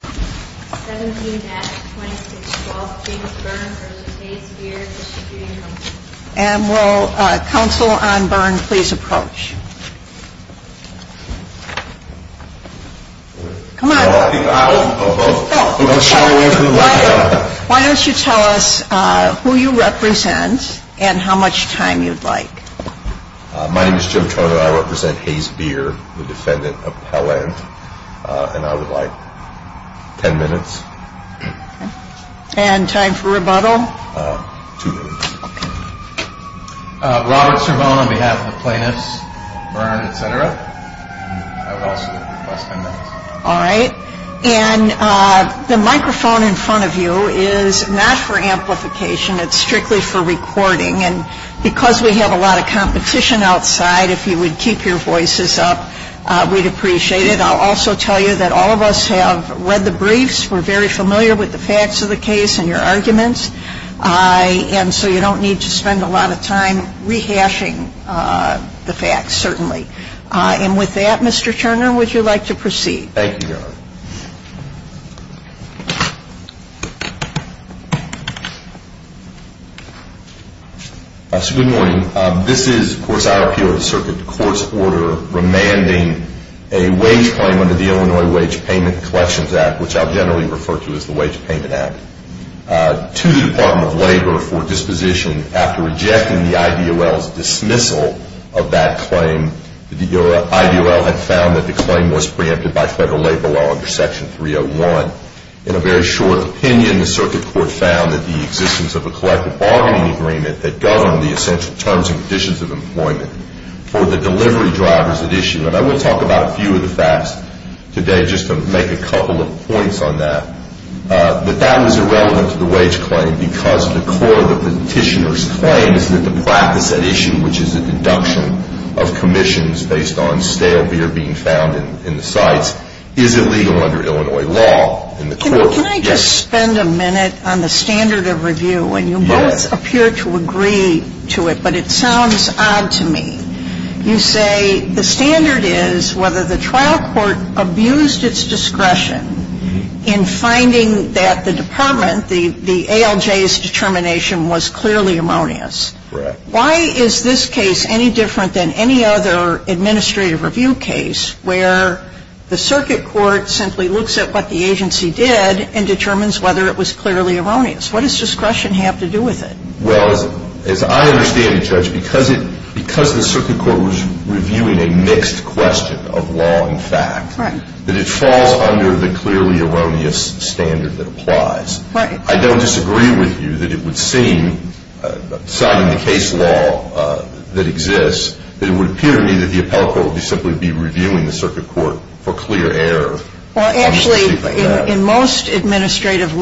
17-2612 James Byrnes v. Hayes Beer Distributing Co. And will counsel on Byrnes please approach? Come on. Oh, oh, oh. Don't shout away from the microphone. Why don't you tell us who you represent and how much time you'd like. My name is Joe Turner. I represent Hayes Beer, the defendant of Pell Inn. And I would like 10 minutes. Okay. And time for rebuttal? Two minutes. Okay. Robert Cervone on behalf of the plaintiffs, Byrnes, etc. I would also request 10 minutes. All right. And the microphone in front of you is not for amplification. It's strictly for recording. And because we have a lot of competition outside, if you would keep your voices up, we'd appreciate it. And I'll also tell you that all of us have read the briefs. We're very familiar with the facts of the case and your arguments. And so you don't need to spend a lot of time rehashing the facts, certainly. And with that, Mr. Turner, would you like to proceed? Thank you, Your Honor. Good morning. This is, of course, I appeal the circuit court's order remanding a wage claim under the Illinois Wage Payment Collections Act, which I generally refer to as the Wage Payment Act, to the Department of Labor for disposition. After rejecting the IDOL's dismissal of that claim, the IDOL had found that the claim was preempted by federal labor law under Section 301. In a very short opinion, the circuit court found that the existence of a collective bargaining agreement that governed the essential terms and conditions of employment for the delivery drivers at issue, and I will talk about a few of the facts today just to make a couple of points on that, that that was irrelevant to the wage claim because the core of the petitioner's claim is that the practice at issue, which is a deduction of commissions based on stale beer being found in the sites, is illegal under Illinois law. Can I just spend a minute on the standard of review? Yes. And you both appear to agree to it, but it sounds odd to me. You say the standard is whether the trial court abused its discretion in finding that the department, the ALJ's determination was clearly ammonious. Correct. Why is this case any different than any other administrative review case where the circuit court simply looks at what the agency did and determines whether it was clearly erroneous? What does discretion have to do with it? Well, as I understand it, Judge, because the circuit court was reviewing a mixed question of law and fact, that it falls under the clearly erroneous standard that applies. Right. I don't disagree with you that it would seem, citing the case law that exists, that it would appear to me that the appellate court would simply be reviewing the circuit court for clear error. Well, actually, in most administrative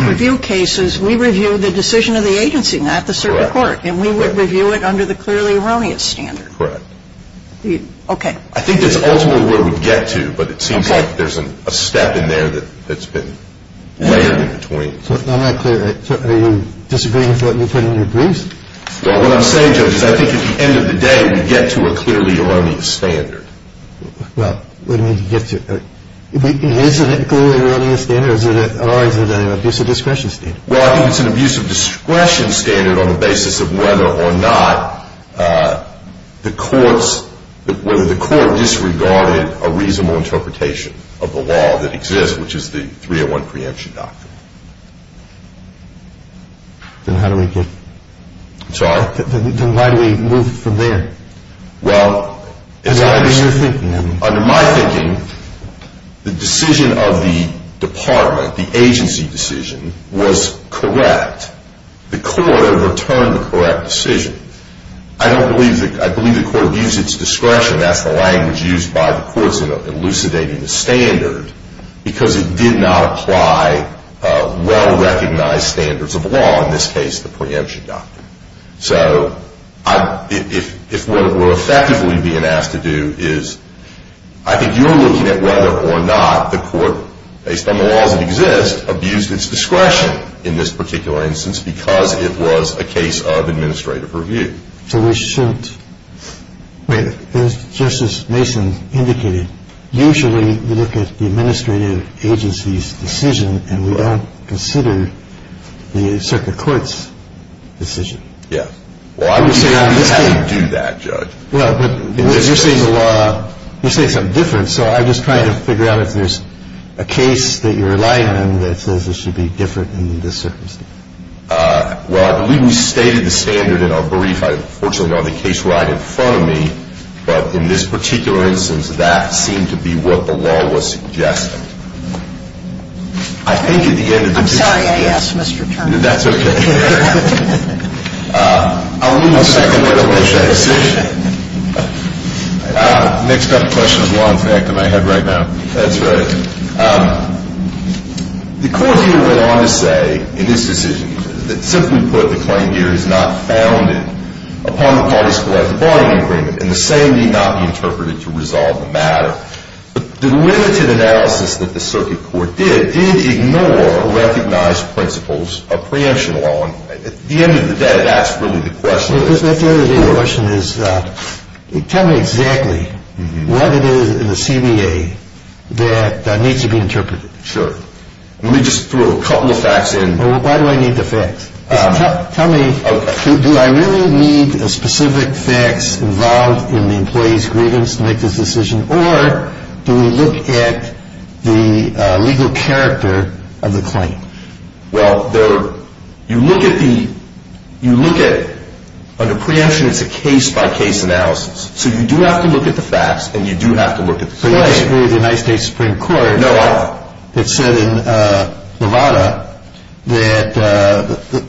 review cases, we review the decision of the agency, not the circuit court. Correct. And we would review it under the clearly erroneous standard. Correct. Okay. I think that's ultimately where we get to, but it seems like there's a step in there that's been layered in between. I'm not clear. Are you disagreeing with what you put in your briefs? Well, what I'm saying, Judge, is I think at the end of the day, we get to a clearly erroneous standard. Well, what do you mean you get to? Isn't it a clearly erroneous standard, or is it an abusive discretion standard? Well, I think it's an abusive discretion standard on the basis of whether or not the courts – whether the court disregarded a reasonable interpretation of the law that exists, which is the 301 preemption doctrine. Then how do we get – I'm sorry? Then why do we move from there? Well, under my thinking, the decision of the department, the agency decision, was correct. The court overturned the correct decision. I don't believe – I believe the court abused its discretion. That's the language used by the courts in elucidating the standard, because it did not apply well-recognized standards of law, in this case the preemption doctrine. So if what we're effectively being asked to do is – I think you're looking at whether or not the court, based on the laws that exist, abused its discretion in this particular instance because it was a case of administrative review. So we shouldn't – just as Mason indicated, usually we look at the administrative agency's decision, and we don't consider the circuit court's decision. Yeah. Well, I would say we have to do that, Judge. Well, but you're saying the law – you're saying something different, so I'm just trying to figure out if there's a case that you're relying on that says it should be different in this circumstance. Well, I believe we stated the standard in our brief. I unfortunately don't have the case right in front of me, but in this particular instance, that seemed to be what the law was suggesting. I think at the end of the day – I'm sorry I asked, Mr. Turner. That's okay. I'll leave the circuit court to make that decision. Next up, question of law, in fact, in my head right now. That's right. The court here went on to say, in this decision, that simply put, the claim here is not founded upon the parties collected by the agreement, and the same need not be interpreted to resolve the matter. But the limited analysis that the circuit court did, did ignore recognized principles of preemption law, and at the end of the day, that's really the question. At the end of the day, the question is, tell me exactly what it is in the CBA that needs to be interpreted. Sure. Let me just throw a couple of facts in. Why do I need the facts? Tell me, do I really need specific facts involved in the employee's grievance to make this decision, or do we look at the legal character of the claim? Well, you look at, under preemption, it's a case-by-case analysis. So you do have to look at the facts, and you do have to look at the claim. But you disagree with the United States Supreme Court. No, I don't. It said in Nevada that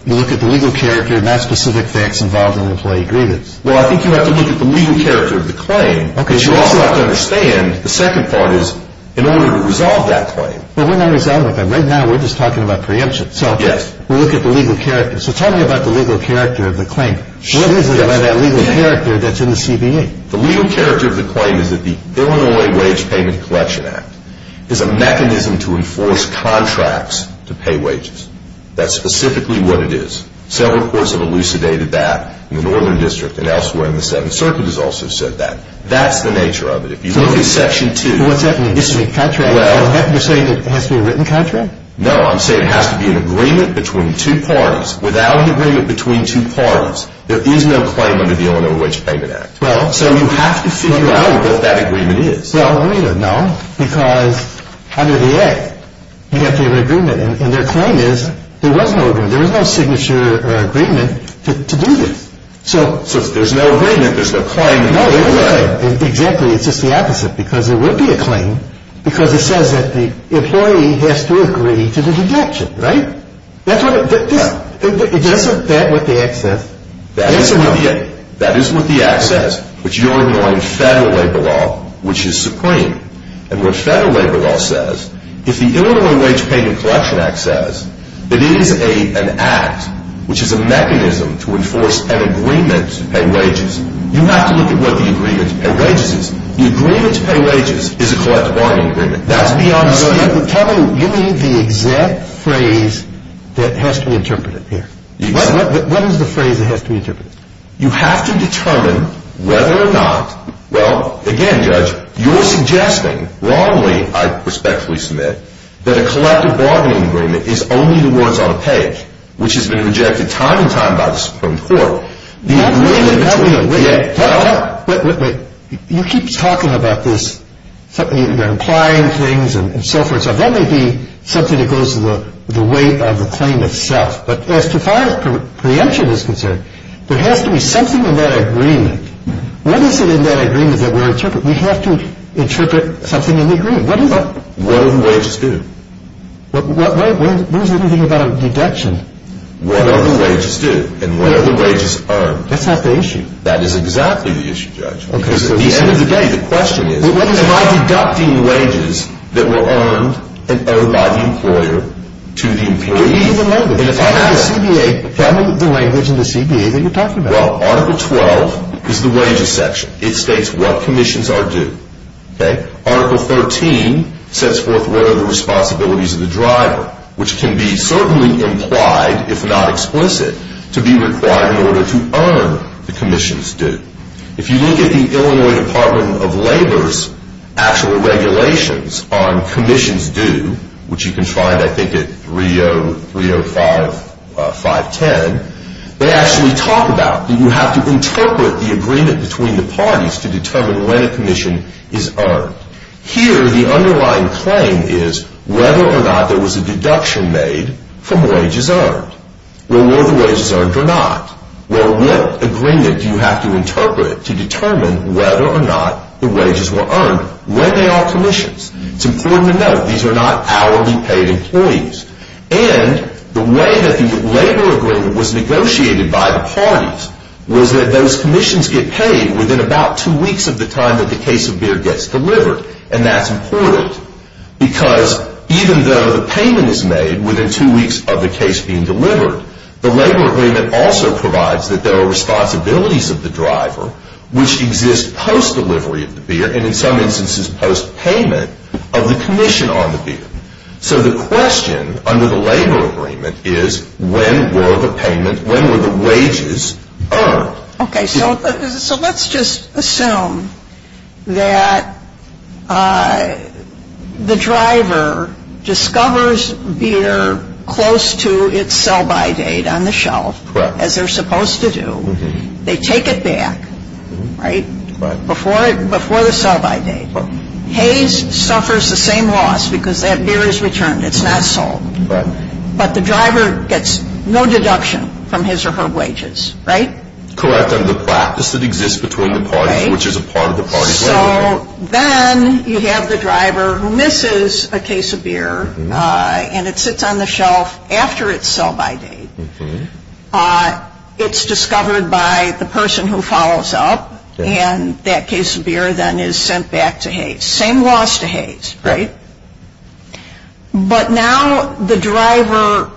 you look at the legal character, not specific facts involved in the employee grievance. Well, I think you have to look at the legal character of the claim. Okay. But you also have to understand, the second part is, in order to resolve that claim. Well, we're not resolving it. Right now, we're just talking about preemption. Yes. So we look at the legal character. So tell me about the legal character of the claim. What is it about that legal character that's in the CBA? The legal character of the claim is that the Illinois Wage Payment Collection Act is a mechanism to enforce contracts to pay wages. That's specifically what it is. Several courts have elucidated that in the Northern District and elsewhere in the Senate. The Circuit has also said that. That's the nature of it. If you look at Section 2. What's that? You're saying it has to be a written contract? No, I'm saying it has to be an agreement between two parties. Without an agreement between two parties, there is no claim under the Illinois Wage Payment Act. So you have to figure out what that agreement is. No, because under the Act, you have to have an agreement. And their claim is, there was no agreement. There was no signature or agreement to do this. So if there's no agreement, there's no claim. Exactly, it's just the opposite, because there would be a claim because it says that the employee has to agree to the deduction, right? Isn't that what the Act says? That is what the Act says. But you're ignoring federal labor law, which is supreme. And what federal labor law says, if the Illinois Wage Payment Collection Act says, it is an act which is a mechanism to enforce an agreement to pay wages. You have to look at what the agreement to pay wages is. The agreement to pay wages is a collective bargaining agreement. That's beyond the statute. Tell me, you mean the exact phrase that has to be interpreted here. What is the phrase that has to be interpreted? You have to determine whether or not, well, again, Judge, you're suggesting wrongly, I respectfully submit, that a collective bargaining agreement is only the ones on a page, which has been rejected time and time by the Supreme Court. Wait a minute. You keep talking about this. You're implying things and so forth. That may be something that goes to the weight of the claim itself. But as far as preemption is concerned, there has to be something in that agreement. What is it in that agreement that we're interpreting? We have to interpret something in the agreement. What do the wages do? What is the thing about a deduction? What do the wages do and what are the wages earned? That's not the issue. That is exactly the issue, Judge. Because at the end of the day, the question is, am I deducting wages that were earned and owed by the employer to the employee? Tell me the language in the CBA that you're talking about. Article 12 is the wages section. It states what commissions are due. Article 13 sets forth what are the responsibilities of the driver, which can be certainly implied, if not explicit, to be required in order to earn the commission's due. If you look at the Illinois Department of Labor's actual regulations on commissions due, which you can find, I think, at 305.510, they actually talk about that you have to interpret the agreement between the parties to determine when a commission is earned. Here, the underlying claim is whether or not there was a deduction made from wages earned. Well, were the wages earned or not? Well, what agreement do you have to interpret to determine whether or not the wages were earned? When they are commissions? It's important to note, these are not hourly paid employees. And the way that the labor agreement was negotiated by the parties was that those commissions get paid within about two weeks of the time that the case of beer gets delivered. And that's important because even though the payment is made within two weeks of the case being delivered, the labor agreement also provides that there are responsibilities of the driver, which exist post-delivery of the beer and, in some instances, post-payment of the commission on the beer. So the question under the labor agreement is when were the payment, when were the wages earned? Okay. So let's just assume that the driver discovers beer close to its sell-by date on the shelf, as they're supposed to do. They take it back, right, before the sell-by date. Hayes suffers the same loss because that beer is returned. It's not sold. But the driver gets no deduction from his or her wages, right? Correct, under the practice that exists between the parties, which is a part of the party's labor agreement. So then you have the driver who misses a case of beer, and it sits on the shelf after its sell-by date. It's discovered by the person who follows up, and that case of beer then is sent back to Hayes. Same loss to Hayes, right? But now the driver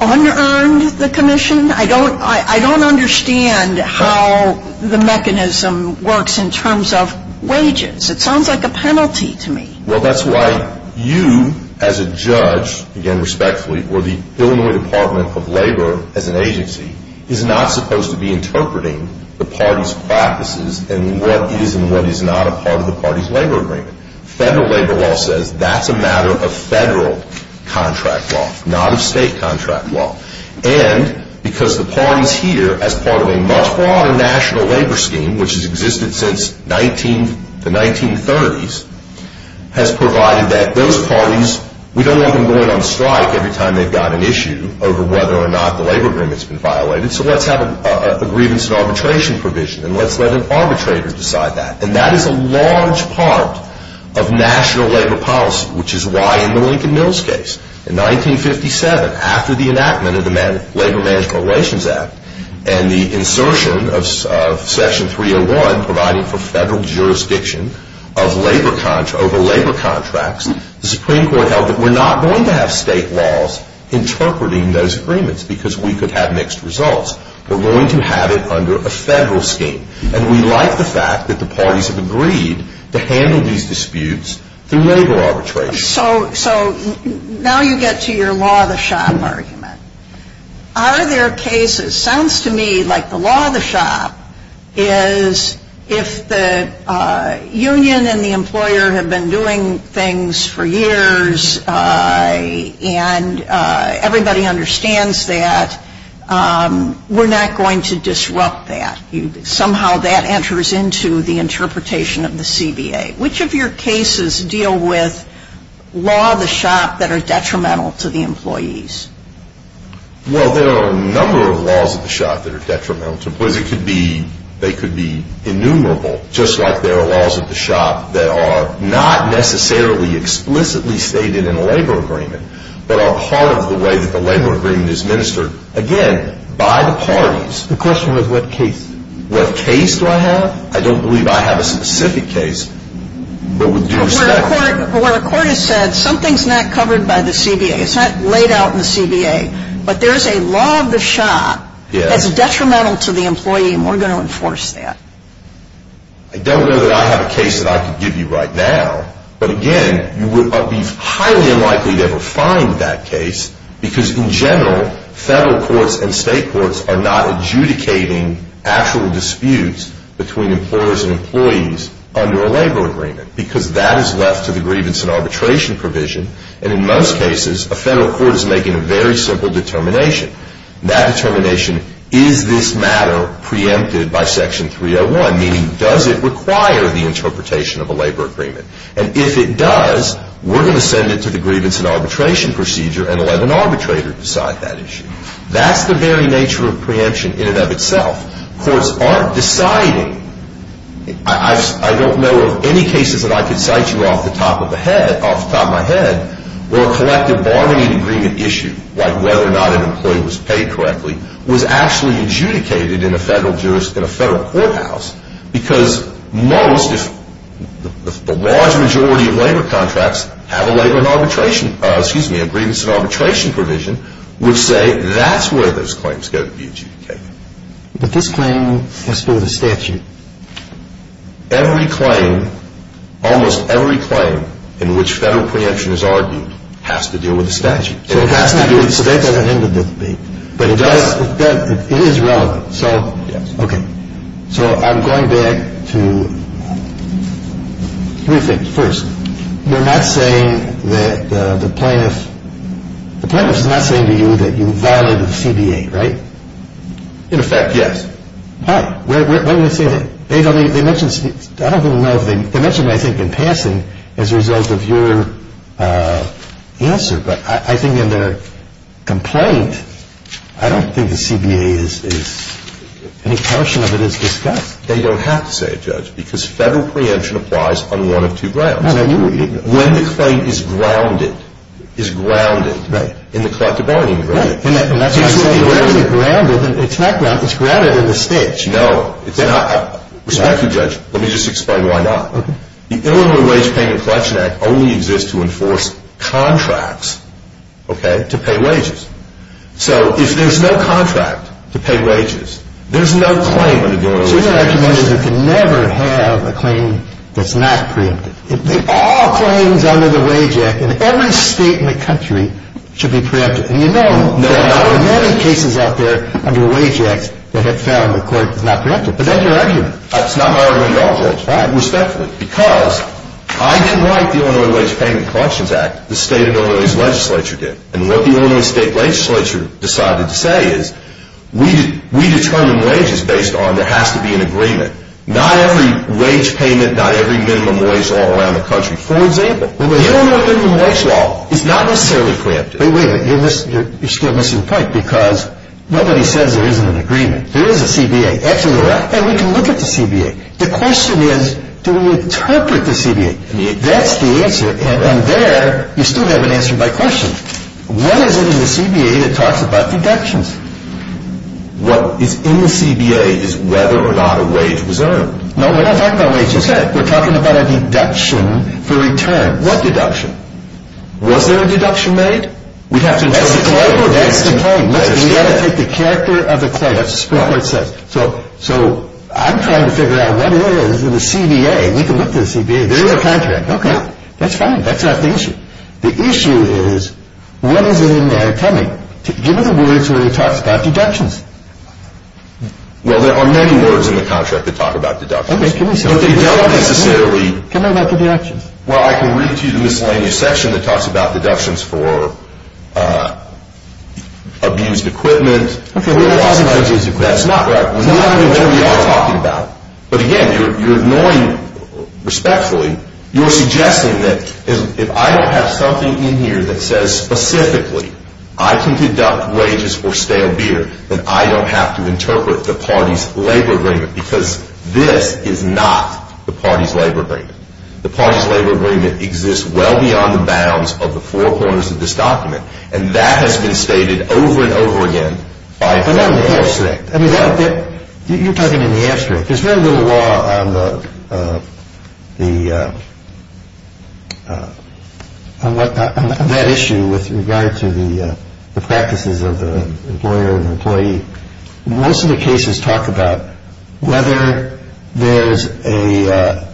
under-earned the commission. I don't understand how the mechanism works in terms of wages. It sounds like a penalty to me. Well, that's why you as a judge, again respectfully, or the Illinois Department of Labor as an agency, is not supposed to be interpreting the party's practices and what is and what is not a part of the party's labor agreement. Federal labor law says that's a matter of federal contract law, not of state contract law. And because the parties here, as part of a much broader national labor scheme, which has existed since the 1930s, has provided that those parties, we don't want them going on strike every time they've got an issue over whether or not the labor agreement's been violated, so let's have a grievance and arbitration provision, and let's let an arbitrator decide that. And that is a large part of national labor policy, which is why in the Lincoln Mills case in 1957, after the enactment of the Labor Management Relations Act and the insertion of Section 301 providing for federal jurisdiction over labor contracts, the Supreme Court held that we're not going to have state laws interpreting those agreements because we could have mixed results. We're going to have it under a federal scheme. And we like the fact that the parties have agreed to handle these disputes through labor arbitration. So now you get to your law of the shop argument. Are there cases? Sounds to me like the law of the shop is if the union and the employer have been doing things for years and everybody understands that, we're not going to disrupt that. Somehow that enters into the interpretation of the CBA. Which of your cases deal with law of the shop that are detrimental to the employees? Well, there are a number of laws of the shop that are detrimental to employees. They could be innumerable, just like there are laws of the shop that are not necessarily explicitly stated in a labor agreement but are part of the way that the labor agreement is administered, again, by the parties. The question was what case. What case do I have? I don't believe I have a specific case, but with due respect. Where a court has said something's not covered by the CBA. It's not laid out in the CBA, but there's a law of the shop that's detrimental to the employee and we're going to enforce that. I don't know that I have a case that I could give you right now. But, again, you would be highly unlikely to ever find that case because, in general, federal courts and state courts are not adjudicating actual disputes between employers and employees under a labor agreement because that is left to the grievance and arbitration provision. And in most cases, a federal court is making a very simple determination. That determination, is this matter preempted by Section 301? Meaning, does it require the interpretation of a labor agreement? And if it does, we're going to send it to the grievance and arbitration procedure and let an arbitrator decide that issue. That's the very nature of preemption in and of itself. Courts aren't deciding. I don't know of any cases that I could cite you off the top of my head where a collective bargaining agreement issue, like whether or not an employee was paid correctly, was actually adjudicated in a federal courthouse. Because most, if the large majority of labor contracts have a labor and arbitration, excuse me, a grievance and arbitration provision, would say that's where those claims are going to be adjudicated. But this claim has to do with a statute. Every claim, almost every claim in which federal preemption is argued has to do with a statute. So it has to do with a statute. So that doesn't end the dispute. But it does. It is relevant. So, okay. So I'm going back to three things. First, you're not saying that the plaintiff, the plaintiff is not saying to you that you violated the CBA, right? In effect, yes. Why? Why do they say that? They mentioned, I don't even know if they mentioned it, I think, in passing as a result of your answer. But I think in their complaint, I don't think the CBA is, any portion of it is discussed. They don't have to say it, Judge, because federal preemption applies on one of two grounds. When the claim is grounded, is grounded in the collective bargaining agreement. It's grounded in the statute. No, it's not. Respect to you, Judge, let me just explain why not. The Illinois Wage Payment Collection Act only exists to enforce contracts, okay, to pay wages. So if there's no contract to pay wages, there's no claim under the Illinois Wage Payment Collection Act. So your argument is it can never have a claim that's not preemptive. All claims under the Wage Act in every state in the country should be preemptive. And you know there are many cases out there under the Wage Act that have found the court is not preemptive. But that's your argument. That's not my argument at all, Judge. All right, respectfully. Because I didn't write the Illinois Wage Payment Collections Act. The state and Illinois legislature did. And what the Illinois state legislature decided to say is we determine wages based on there has to be an agreement. Not every wage payment, not every minimum wage law around the country. For example, the Illinois minimum wage law is not necessarily preemptive. Wait, wait, you're still missing the point because nobody says there isn't an agreement. There is a CBA. Absolutely right. And we can look at the CBA. The question is do we interpret the CBA? That's the answer. And there you still haven't answered my question. What is it in the CBA that talks about deductions? What is in the CBA is whether or not a wage was earned. No, we're not talking about wages. Okay. We're talking about a deduction for returns. What deduction? Was there a deduction made? We'd have to interpret the claim. That's the claim. That's the claim. We've got to take the character of the claim. That's right. That's what it says. So I'm trying to figure out what it is in the CBA. We can look at the CBA. There is a contract. Okay. That's fine. That's not the issue. The issue is what is it in there? Tell me. Give me the words where it talks about deductions. Well, there are many words in the contract that talk about deductions. Okay, give me some. But they don't necessarily. Tell me about the deductions. Well, I can read to you the miscellaneous section that talks about deductions for abused equipment. That's not what we are talking about. But again, you're ignoring respectfully. You're suggesting that if I don't have something in here that says specifically I can conduct wages for stale beer, then I don't have to interpret the party's labor agreement because this is not the party's labor agreement. The party's labor agreement exists well beyond the bounds of the four corners of this document. And that has been stated over and over again. You're talking in the asterisk. There's very little law on that issue with regard to the practices of the employer and employee. Most of the cases talk about whether there's a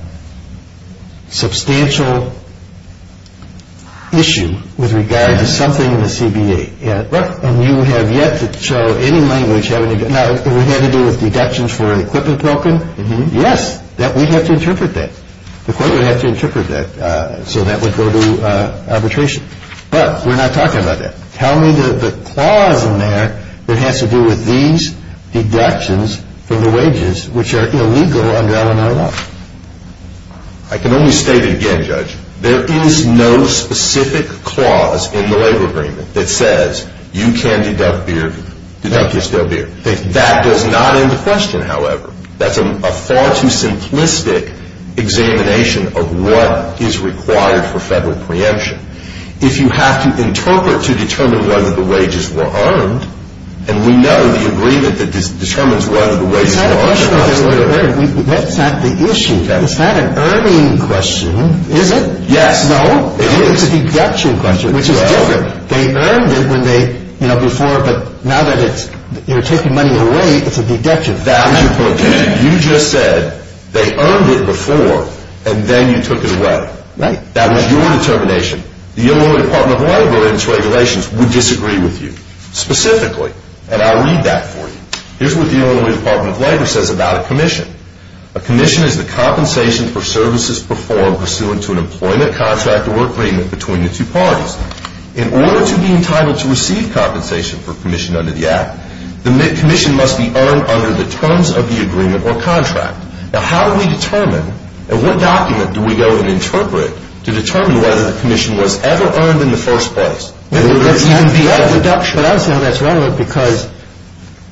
substantial issue with regard to something in the CBA. And you have yet to show any language having to do with deductions for an equipment broken. Yes, we have to interpret that. The court would have to interpret that. So that would go to arbitration. But we're not talking about that. Tell me the clause in there that has to do with these deductions for the wages which are illegal under Illinois law. I can only state it again, Judge. There is no specific clause in the labor agreement that says you can deduct beer, deduct your stale beer. That does not end the question, however. That's a far too simplistic examination of what is required for federal preemption. If you have to interpret to determine whether the wages were earned, and we know the agreement that determines whether the wages were earned. That's not the issue. Is that an earning question? Is it? Yes. No? It is. It's a deduction question, which is different. They earned it when they, you know, before, but now that it's taking money away, it's a deduction. You just said they earned it before and then you took it away. Right. That was your determination. The Illinois Department of Labor and its regulations would disagree with you, specifically, and I'll read that for you. Here's what the Illinois Department of Labor says about a commission. A commission is the compensation for services performed pursuant to an employment contract or agreement between the two parties. In order to be entitled to receive compensation for commission under the Act, the commission must be earned under the terms of the agreement or contract. Now, how do we determine and what document do we go and interpret to determine whether the commission was ever earned in the first place? Well, that's not a deduction. But I'm saying that's wrong because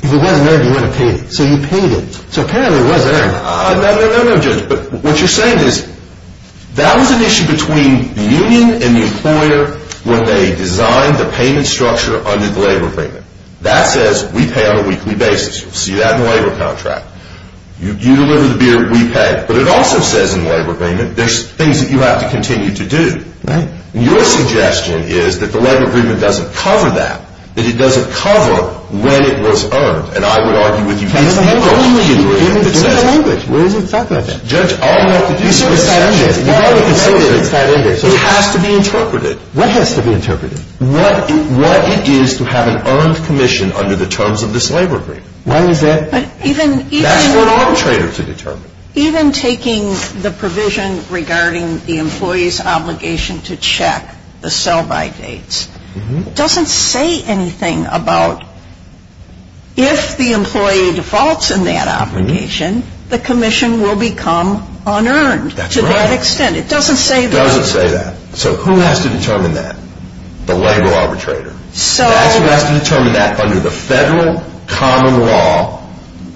if it wasn't earned, you wouldn't have paid it. So you paid it. So apparently it was earned. No, no, no, Judge, but what you're saying is that was an issue between the union and the employer when they designed the payment structure under the labor agreement. That says we pay on a weekly basis. You'll see that in the labor contract. You deliver the beer, we pay. But it also says in the labor agreement there's things that you have to continue to do. Right. And your suggestion is that the labor agreement doesn't cover that, that it doesn't cover when it was earned. And I would argue with you it's the only agreement that says that. It's in the language. Where is it talking about that? Judge, all you have to do is accept it. You've got to consider it. It's not in there. It has to be interpreted. What has to be interpreted? What it is to have an earned commission under the terms of this labor agreement. Why is that? That's for an arbitrator to determine. Even taking the provision regarding the employee's obligation to check the sell-by dates doesn't say anything about if the employee defaults in that obligation, the commission will become unearned. That's right. To that extent. It doesn't say that. It doesn't say that. So who has to determine that? The labor arbitrator. That's who has to determine that under the federal common law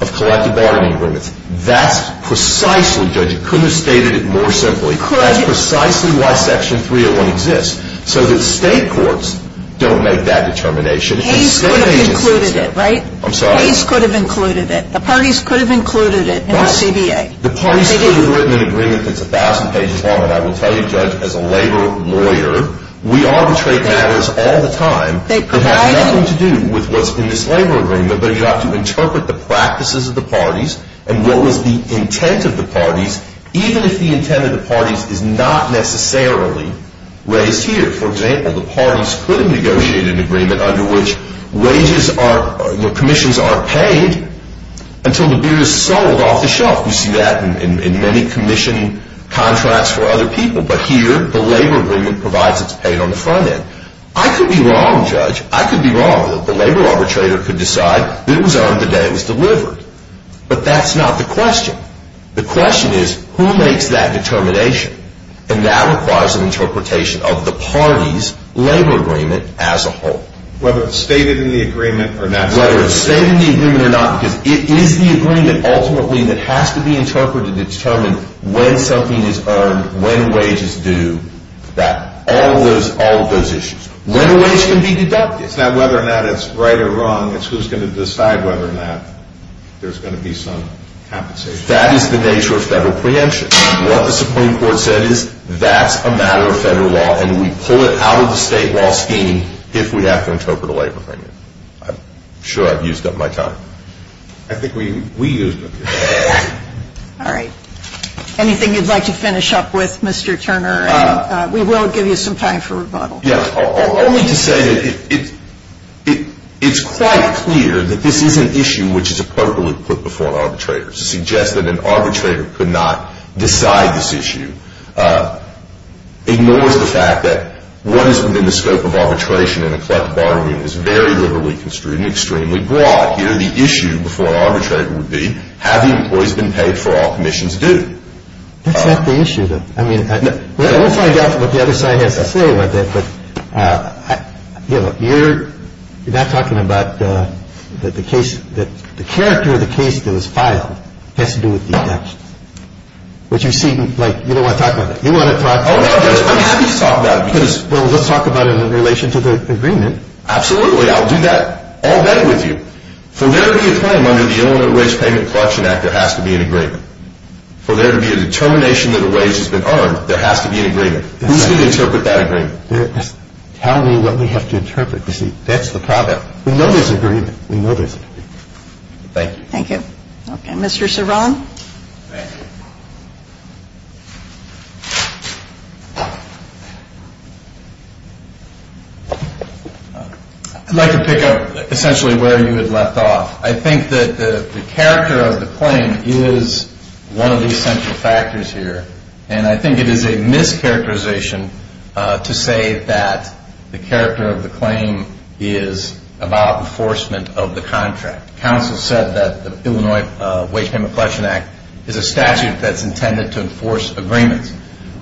of collective bargaining agreements. That's precisely, Judge, you couldn't have stated it more simply. That's precisely why Section 301 exists, so that state courts don't make that determination. Hays could have included it, right? I'm sorry? Hays could have included it. The parties could have included it in the CBA. The parties could have written an agreement that's a thousand pages long, and I will tell you, Judge, as a labor lawyer, we arbitrate matters all the time. They provide it. It has nothing to do with what's in this labor agreement, but you have to interpret the practices of the parties and what was the intent of the parties, even if the intent of the parties is not necessarily raised here. For example, the parties could have negotiated an agreement under which commissions aren't paid until the beer is sold off the shelf. You see that in many commission contracts for other people. But here, the labor agreement provides it's paid on the front end. I could be wrong, Judge. I could be wrong that the labor arbitrator could decide that it was earned the day it was delivered. But that's not the question. The question is, who makes that determination? And that requires an interpretation of the parties' labor agreement as a whole. Whether it's stated in the agreement or not stated in the agreement. Whether it's stated in the agreement or not, because it is the agreement ultimately that has to be interpreted to determine when something is earned, when wage is due, all of those issues. When a wage can be deducted. It's not whether or not it's right or wrong, it's who's going to decide whether or not there's going to be some compensation. That is the nature of federal preemption. What the Supreme Court said is, that's a matter of federal law, and we pull it out of the state law scheme if we have to interpret a labor agreement. I'm sure I've used up my time. I think we used up your time. All right. Anything you'd like to finish up with, Mr. Turner? We will give you some time for rebuttal. Yeah. Only to say that it's quite clear that this is an issue which is appropriately put before an arbitrator. To suggest that an arbitrator could not decide this issue ignores the fact that what is within the scope of arbitration in a collective bargaining is very liberally construed and extremely broad. The issue before an arbitrator would be, have the employees been paid for all commissions due? That's not the issue, though. I mean, we'll find out what the other side has to say about that. But, you know, you're not talking about that the character of the case that was filed has to do with deductions. But you seem like you don't want to talk about that. You want to talk about it. Oh, no, Judge, I'm happy to talk about it. Well, let's talk about it in relation to the agreement. Absolutely. I'll do that all day with you. For there to be a claim under the Illinois Wage Payment Collection Act, there has to be an agreement. For there to be a determination that a wage has been earned, there has to be an agreement. Who's going to interpret that agreement? Tell me what we have to interpret. You see, that's the problem. We know there's an agreement. We know there's an agreement. Thank you. Thank you. Okay. Mr. Ceron? Thank you. I'd like to pick up essentially where you had left off. I think that the character of the claim is one of the essential factors here. And I think it is a mischaracterization to say that the character of the claim is about enforcement of the contract. Council said that the Illinois Wage Payment Collection Act is a statute that's intended to enforce agreements.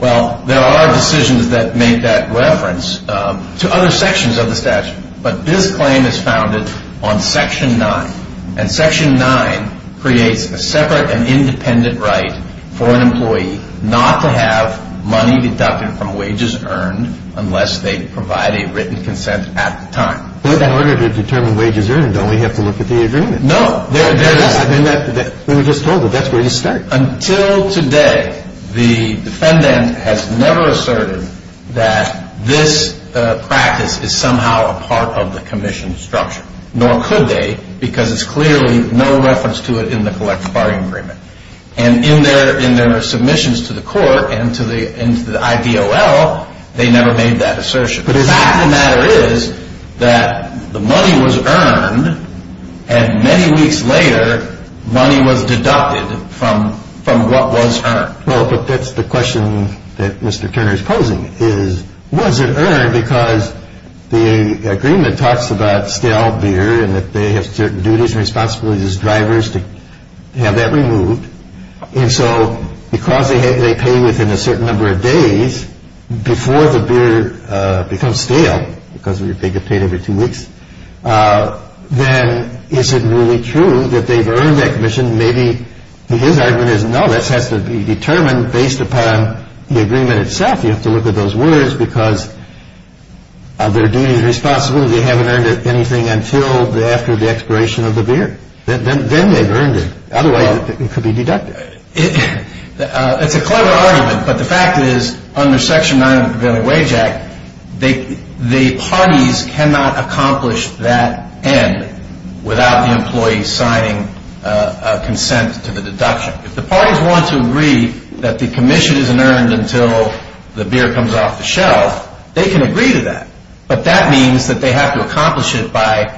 Well, there are decisions that make that reference to other sections of the statute. But this claim is founded on Section 9. And Section 9 creates a separate and independent right for an employee not to have money deducted from wages earned unless they provide a written consent at the time. But in order to determine wages earned, don't we have to look at the agreement? No. We were just told that that's where you start. Until today, the defendant has never asserted that this practice is somehow a part of the commission structure. Nor could they because it's clearly no reference to it in the collective bargaining agreement. And in their submissions to the court and to the IDOL, they never made that assertion. But the fact of the matter is that the money was earned and many weeks later, money was deducted from what was earned. Well, but that's the question that Mr. Turner is posing is, was it earned? Because the agreement talks about stale beer and that they have certain duties and responsibilities as drivers to have that removed. And so because they pay within a certain number of days before the beer becomes stale, because they get paid every two weeks, then is it really true that they've earned that commission? Maybe his argument is no, that has to be determined based upon the agreement itself. You have to look at those words because of their duties, responsibilities. They haven't earned anything until after the expiration of the beer. Then they've earned it. Otherwise it could be deducted. It's a clever argument, but the fact is under Section 9 of the Pavilion Wage Act, the parties cannot accomplish that end without the employee signing a consent to the deduction. If the parties want to agree that the commission isn't earned until the beer comes off the shelf, they can agree to that. But that means that they have to accomplish it by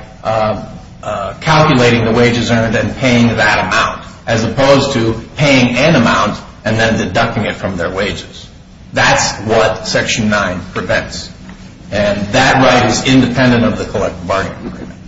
calculating the wages earned and paying that amount as opposed to paying an amount and then deducting it from their wages. That's what Section 9 prevents. And that right is independent of the collective bargaining agreement.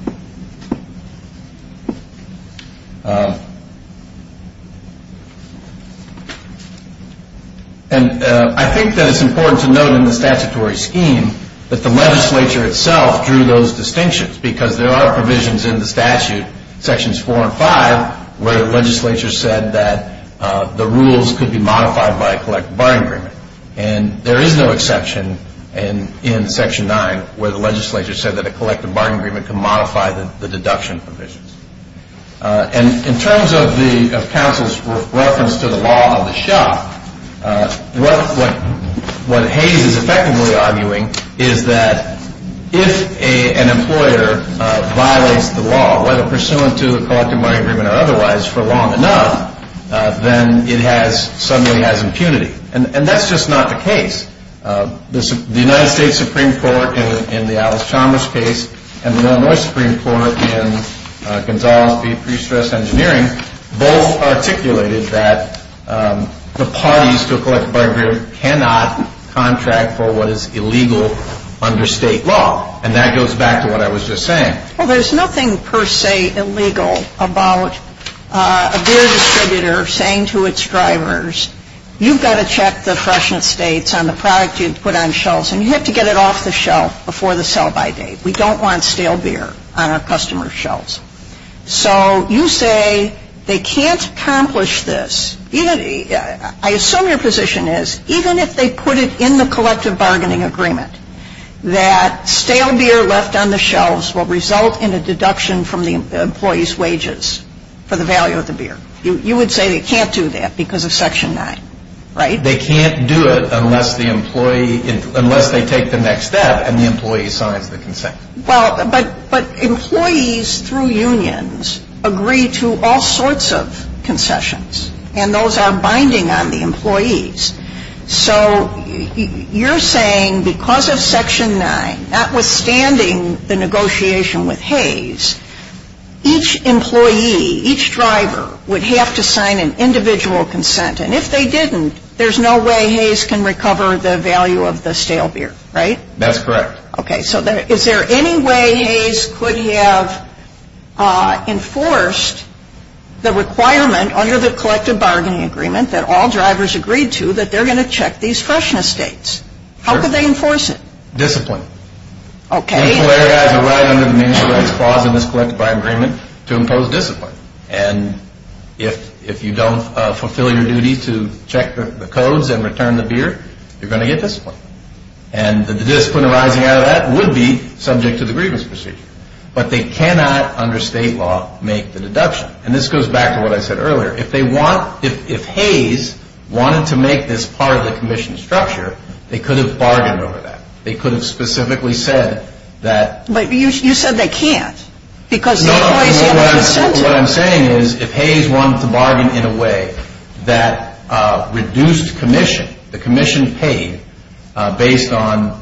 And I think that it's important to note in the statutory scheme that the legislature itself drew those distinctions because there are provisions in the statute, Sections 4 and 5, where the legislature said that the rules could be modified by a collective bargaining agreement. And there is no exception in Section 9 where the legislature said that a collective bargaining agreement could modify the deduction provisions. And in terms of counsel's reference to the law of the shop, what Hayes is effectively arguing is that if an employer violates the law, whether pursuant to a collective bargaining agreement or otherwise, for long enough, then it suddenly has impunity. And that's just not the case. The United States Supreme Court, in the Alice Chalmers case, and the Illinois Supreme Court in Gonzales v. Prestress Engineering, both articulated that the parties to a collective bargaining agreement cannot contract for what is illegal under state law. And that goes back to what I was just saying. Well, there's nothing per se illegal about a beer distributor saying to its drivers, you've got to check the freshness dates on the product you put on shelves and you have to get it off the shelf before the sell-by date. We don't want stale beer on our customers' shelves. So you say they can't accomplish this. I assume your position is even if they put it in the collective bargaining agreement that stale beer left on the shelves will result in a deduction from the employee's wages for the value of the beer. You would say they can't do that because of Section 9, right? They can't do it unless they take the next step and the employee signs the concession. Well, but employees through unions agree to all sorts of concessions. And those are binding on the employees. So you're saying because of Section 9, notwithstanding the negotiation with Hays, each employee, each driver would have to sign an individual consent. And if they didn't, there's no way Hays can recover the value of the stale beer, right? That's correct. Okay. So is there any way Hays could have enforced the requirement under the collective bargaining agreement that all drivers agreed to that they're going to check these freshness dates? How could they enforce it? Discipline. Okay. The meaningful areas are right under the meaningful rights clause in this collective bargaining agreement to impose discipline. And if you don't fulfill your duty to check the codes and return the beer, you're going to get discipline. And the discipline arising out of that would be subject to the grievance procedure. But they cannot, under state law, make the deduction. And this goes back to what I said earlier. If they want, if Hays wanted to make this part of the commission structure, they could have bargained over that. They could have specifically said that. But you said they can't. No, but what I'm saying is if Hays wanted to bargain in a way that reduced commission, the commission paid based on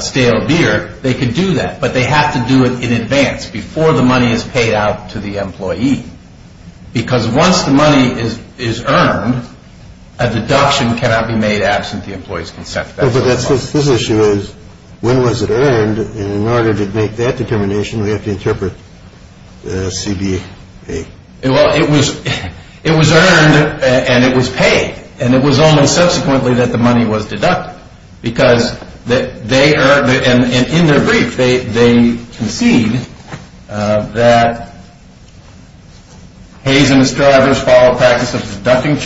stale beer, they could do that. But they have to do it in advance, before the money is paid out to the employee. Because once the money is earned, a deduction cannot be made absent the employee's consent. But this issue is, when was it earned? And in order to make that determination, we have to interpret CBA. Well, it was earned and it was paid. And it was only subsequently that the money was deducted. Because they earned it. And in their brief, they concede that Hays and his drivers follow a practice of deducting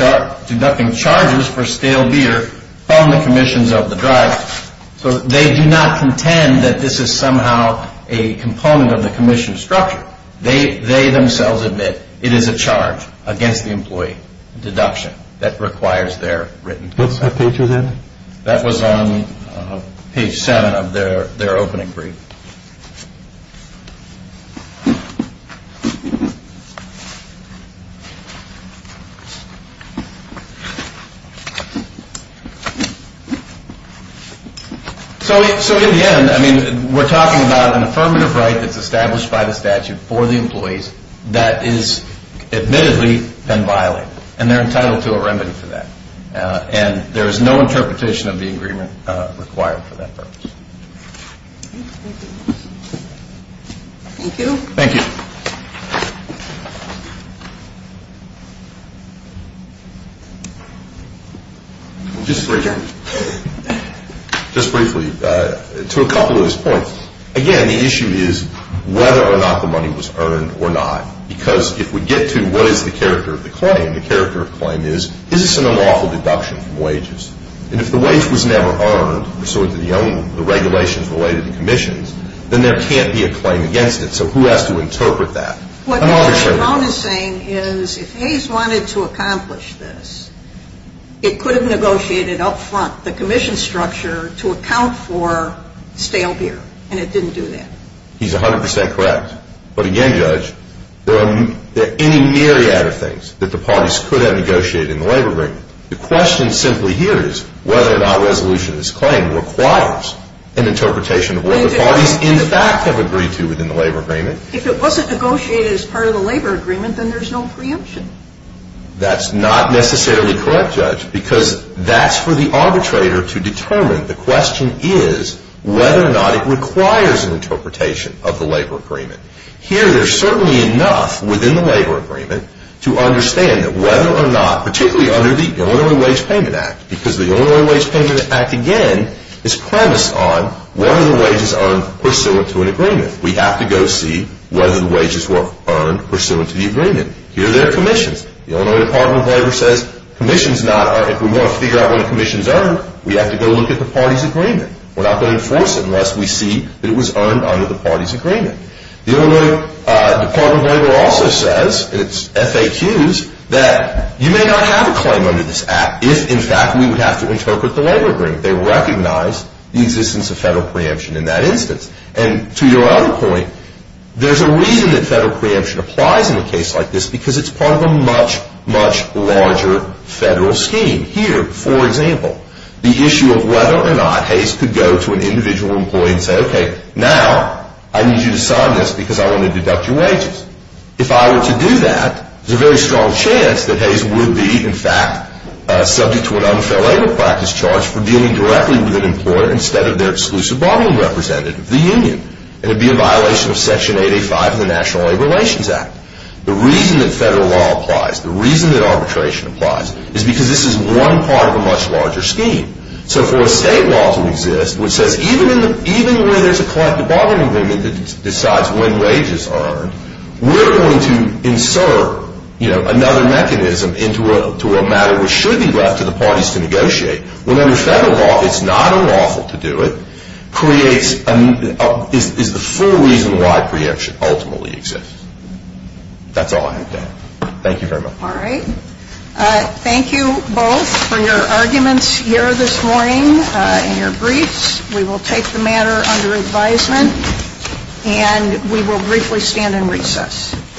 charges for stale beer from the commissions of the drivers. So they do not contend that this is somehow a component of the commission structure. They themselves admit it is a charge against the employee, a deduction, that requires their written consent. What's that page with that? That was on page 7 of their opening brief. So in the end, we're talking about an affirmative right that's established by the statute for the employees that is admittedly been violated. And they're entitled to a remedy for that. And there is no interpretation of the agreement required for that purpose. Thank you. Thank you. Just briefly, to a couple of his points. Again, the issue is whether or not the money was earned or not. And the character of claim is, is this an unlawful deduction from wages? And if the wage was never earned pursuant to the regulations related to commissions, then there can't be a claim against it. So who has to interpret that? He's 100% correct. But again, Judge, there are any myriad of things that the parties could have negotiated in the labor agreement. The question simply here is whether or not resolution of this claim requires an interpretation of what the parties in fact have agreed to within the labor agreement. That's not necessarily correct, Judge, because that's for the arbitrator to determine. The question is whether or not it requires an interpretation of the labor agreement. Here, there's certainly enough within the labor agreement to understand that whether or not, particularly under the Illinois Wage Payment Act, because the Illinois Wage Payment Act, again, is premised on whether the wages earned pursuant to an agreement. We have to go see whether the wages were earned pursuant to the agreement. Here, there are commissions. The Illinois Department of Labor says commissions not are, if we want to figure out what a commission is earned, we have to go look at the party's agreement. We're not going to enforce it unless we see that it was earned under the party's agreement. The Illinois Department of Labor also says, and it's FAQs, that you may not have a claim under this Act if, in fact, we would have to interpret the labor agreement. They recognize the existence of federal preemption in that instance. And to your other point, there's a reason that federal preemption applies in a case like this because it's part of a much, much larger federal scheme. Here, for example, the issue of whether or not Hayes could go to an individual employee and say, okay, now I need you to sign this because I want to deduct your wages. If I were to do that, there's a very strong chance that Hayes would be, in fact, subject to an unfair labor practice charge for dealing directly with an employer instead of their exclusive borrowing representative, the union. And it would be a violation of Section 885 of the National Labor Relations Act. The reason that federal law applies, the reason that arbitration applies, is because this is one part of a much larger scheme. So for a state law to exist, which says even where there's a collective borrowing agreement that decides when wages are earned, we're going to insert, you know, another mechanism into a matter which should be left to the parties to negotiate. Well, under federal law, it's not unlawful to do it, is the full reason why preemption ultimately exists. That's all I have to add. Thank you very much. All right. Thank you both for your arguments here this morning and your briefs. We will take the matter under advisement, and we will briefly stand in recess.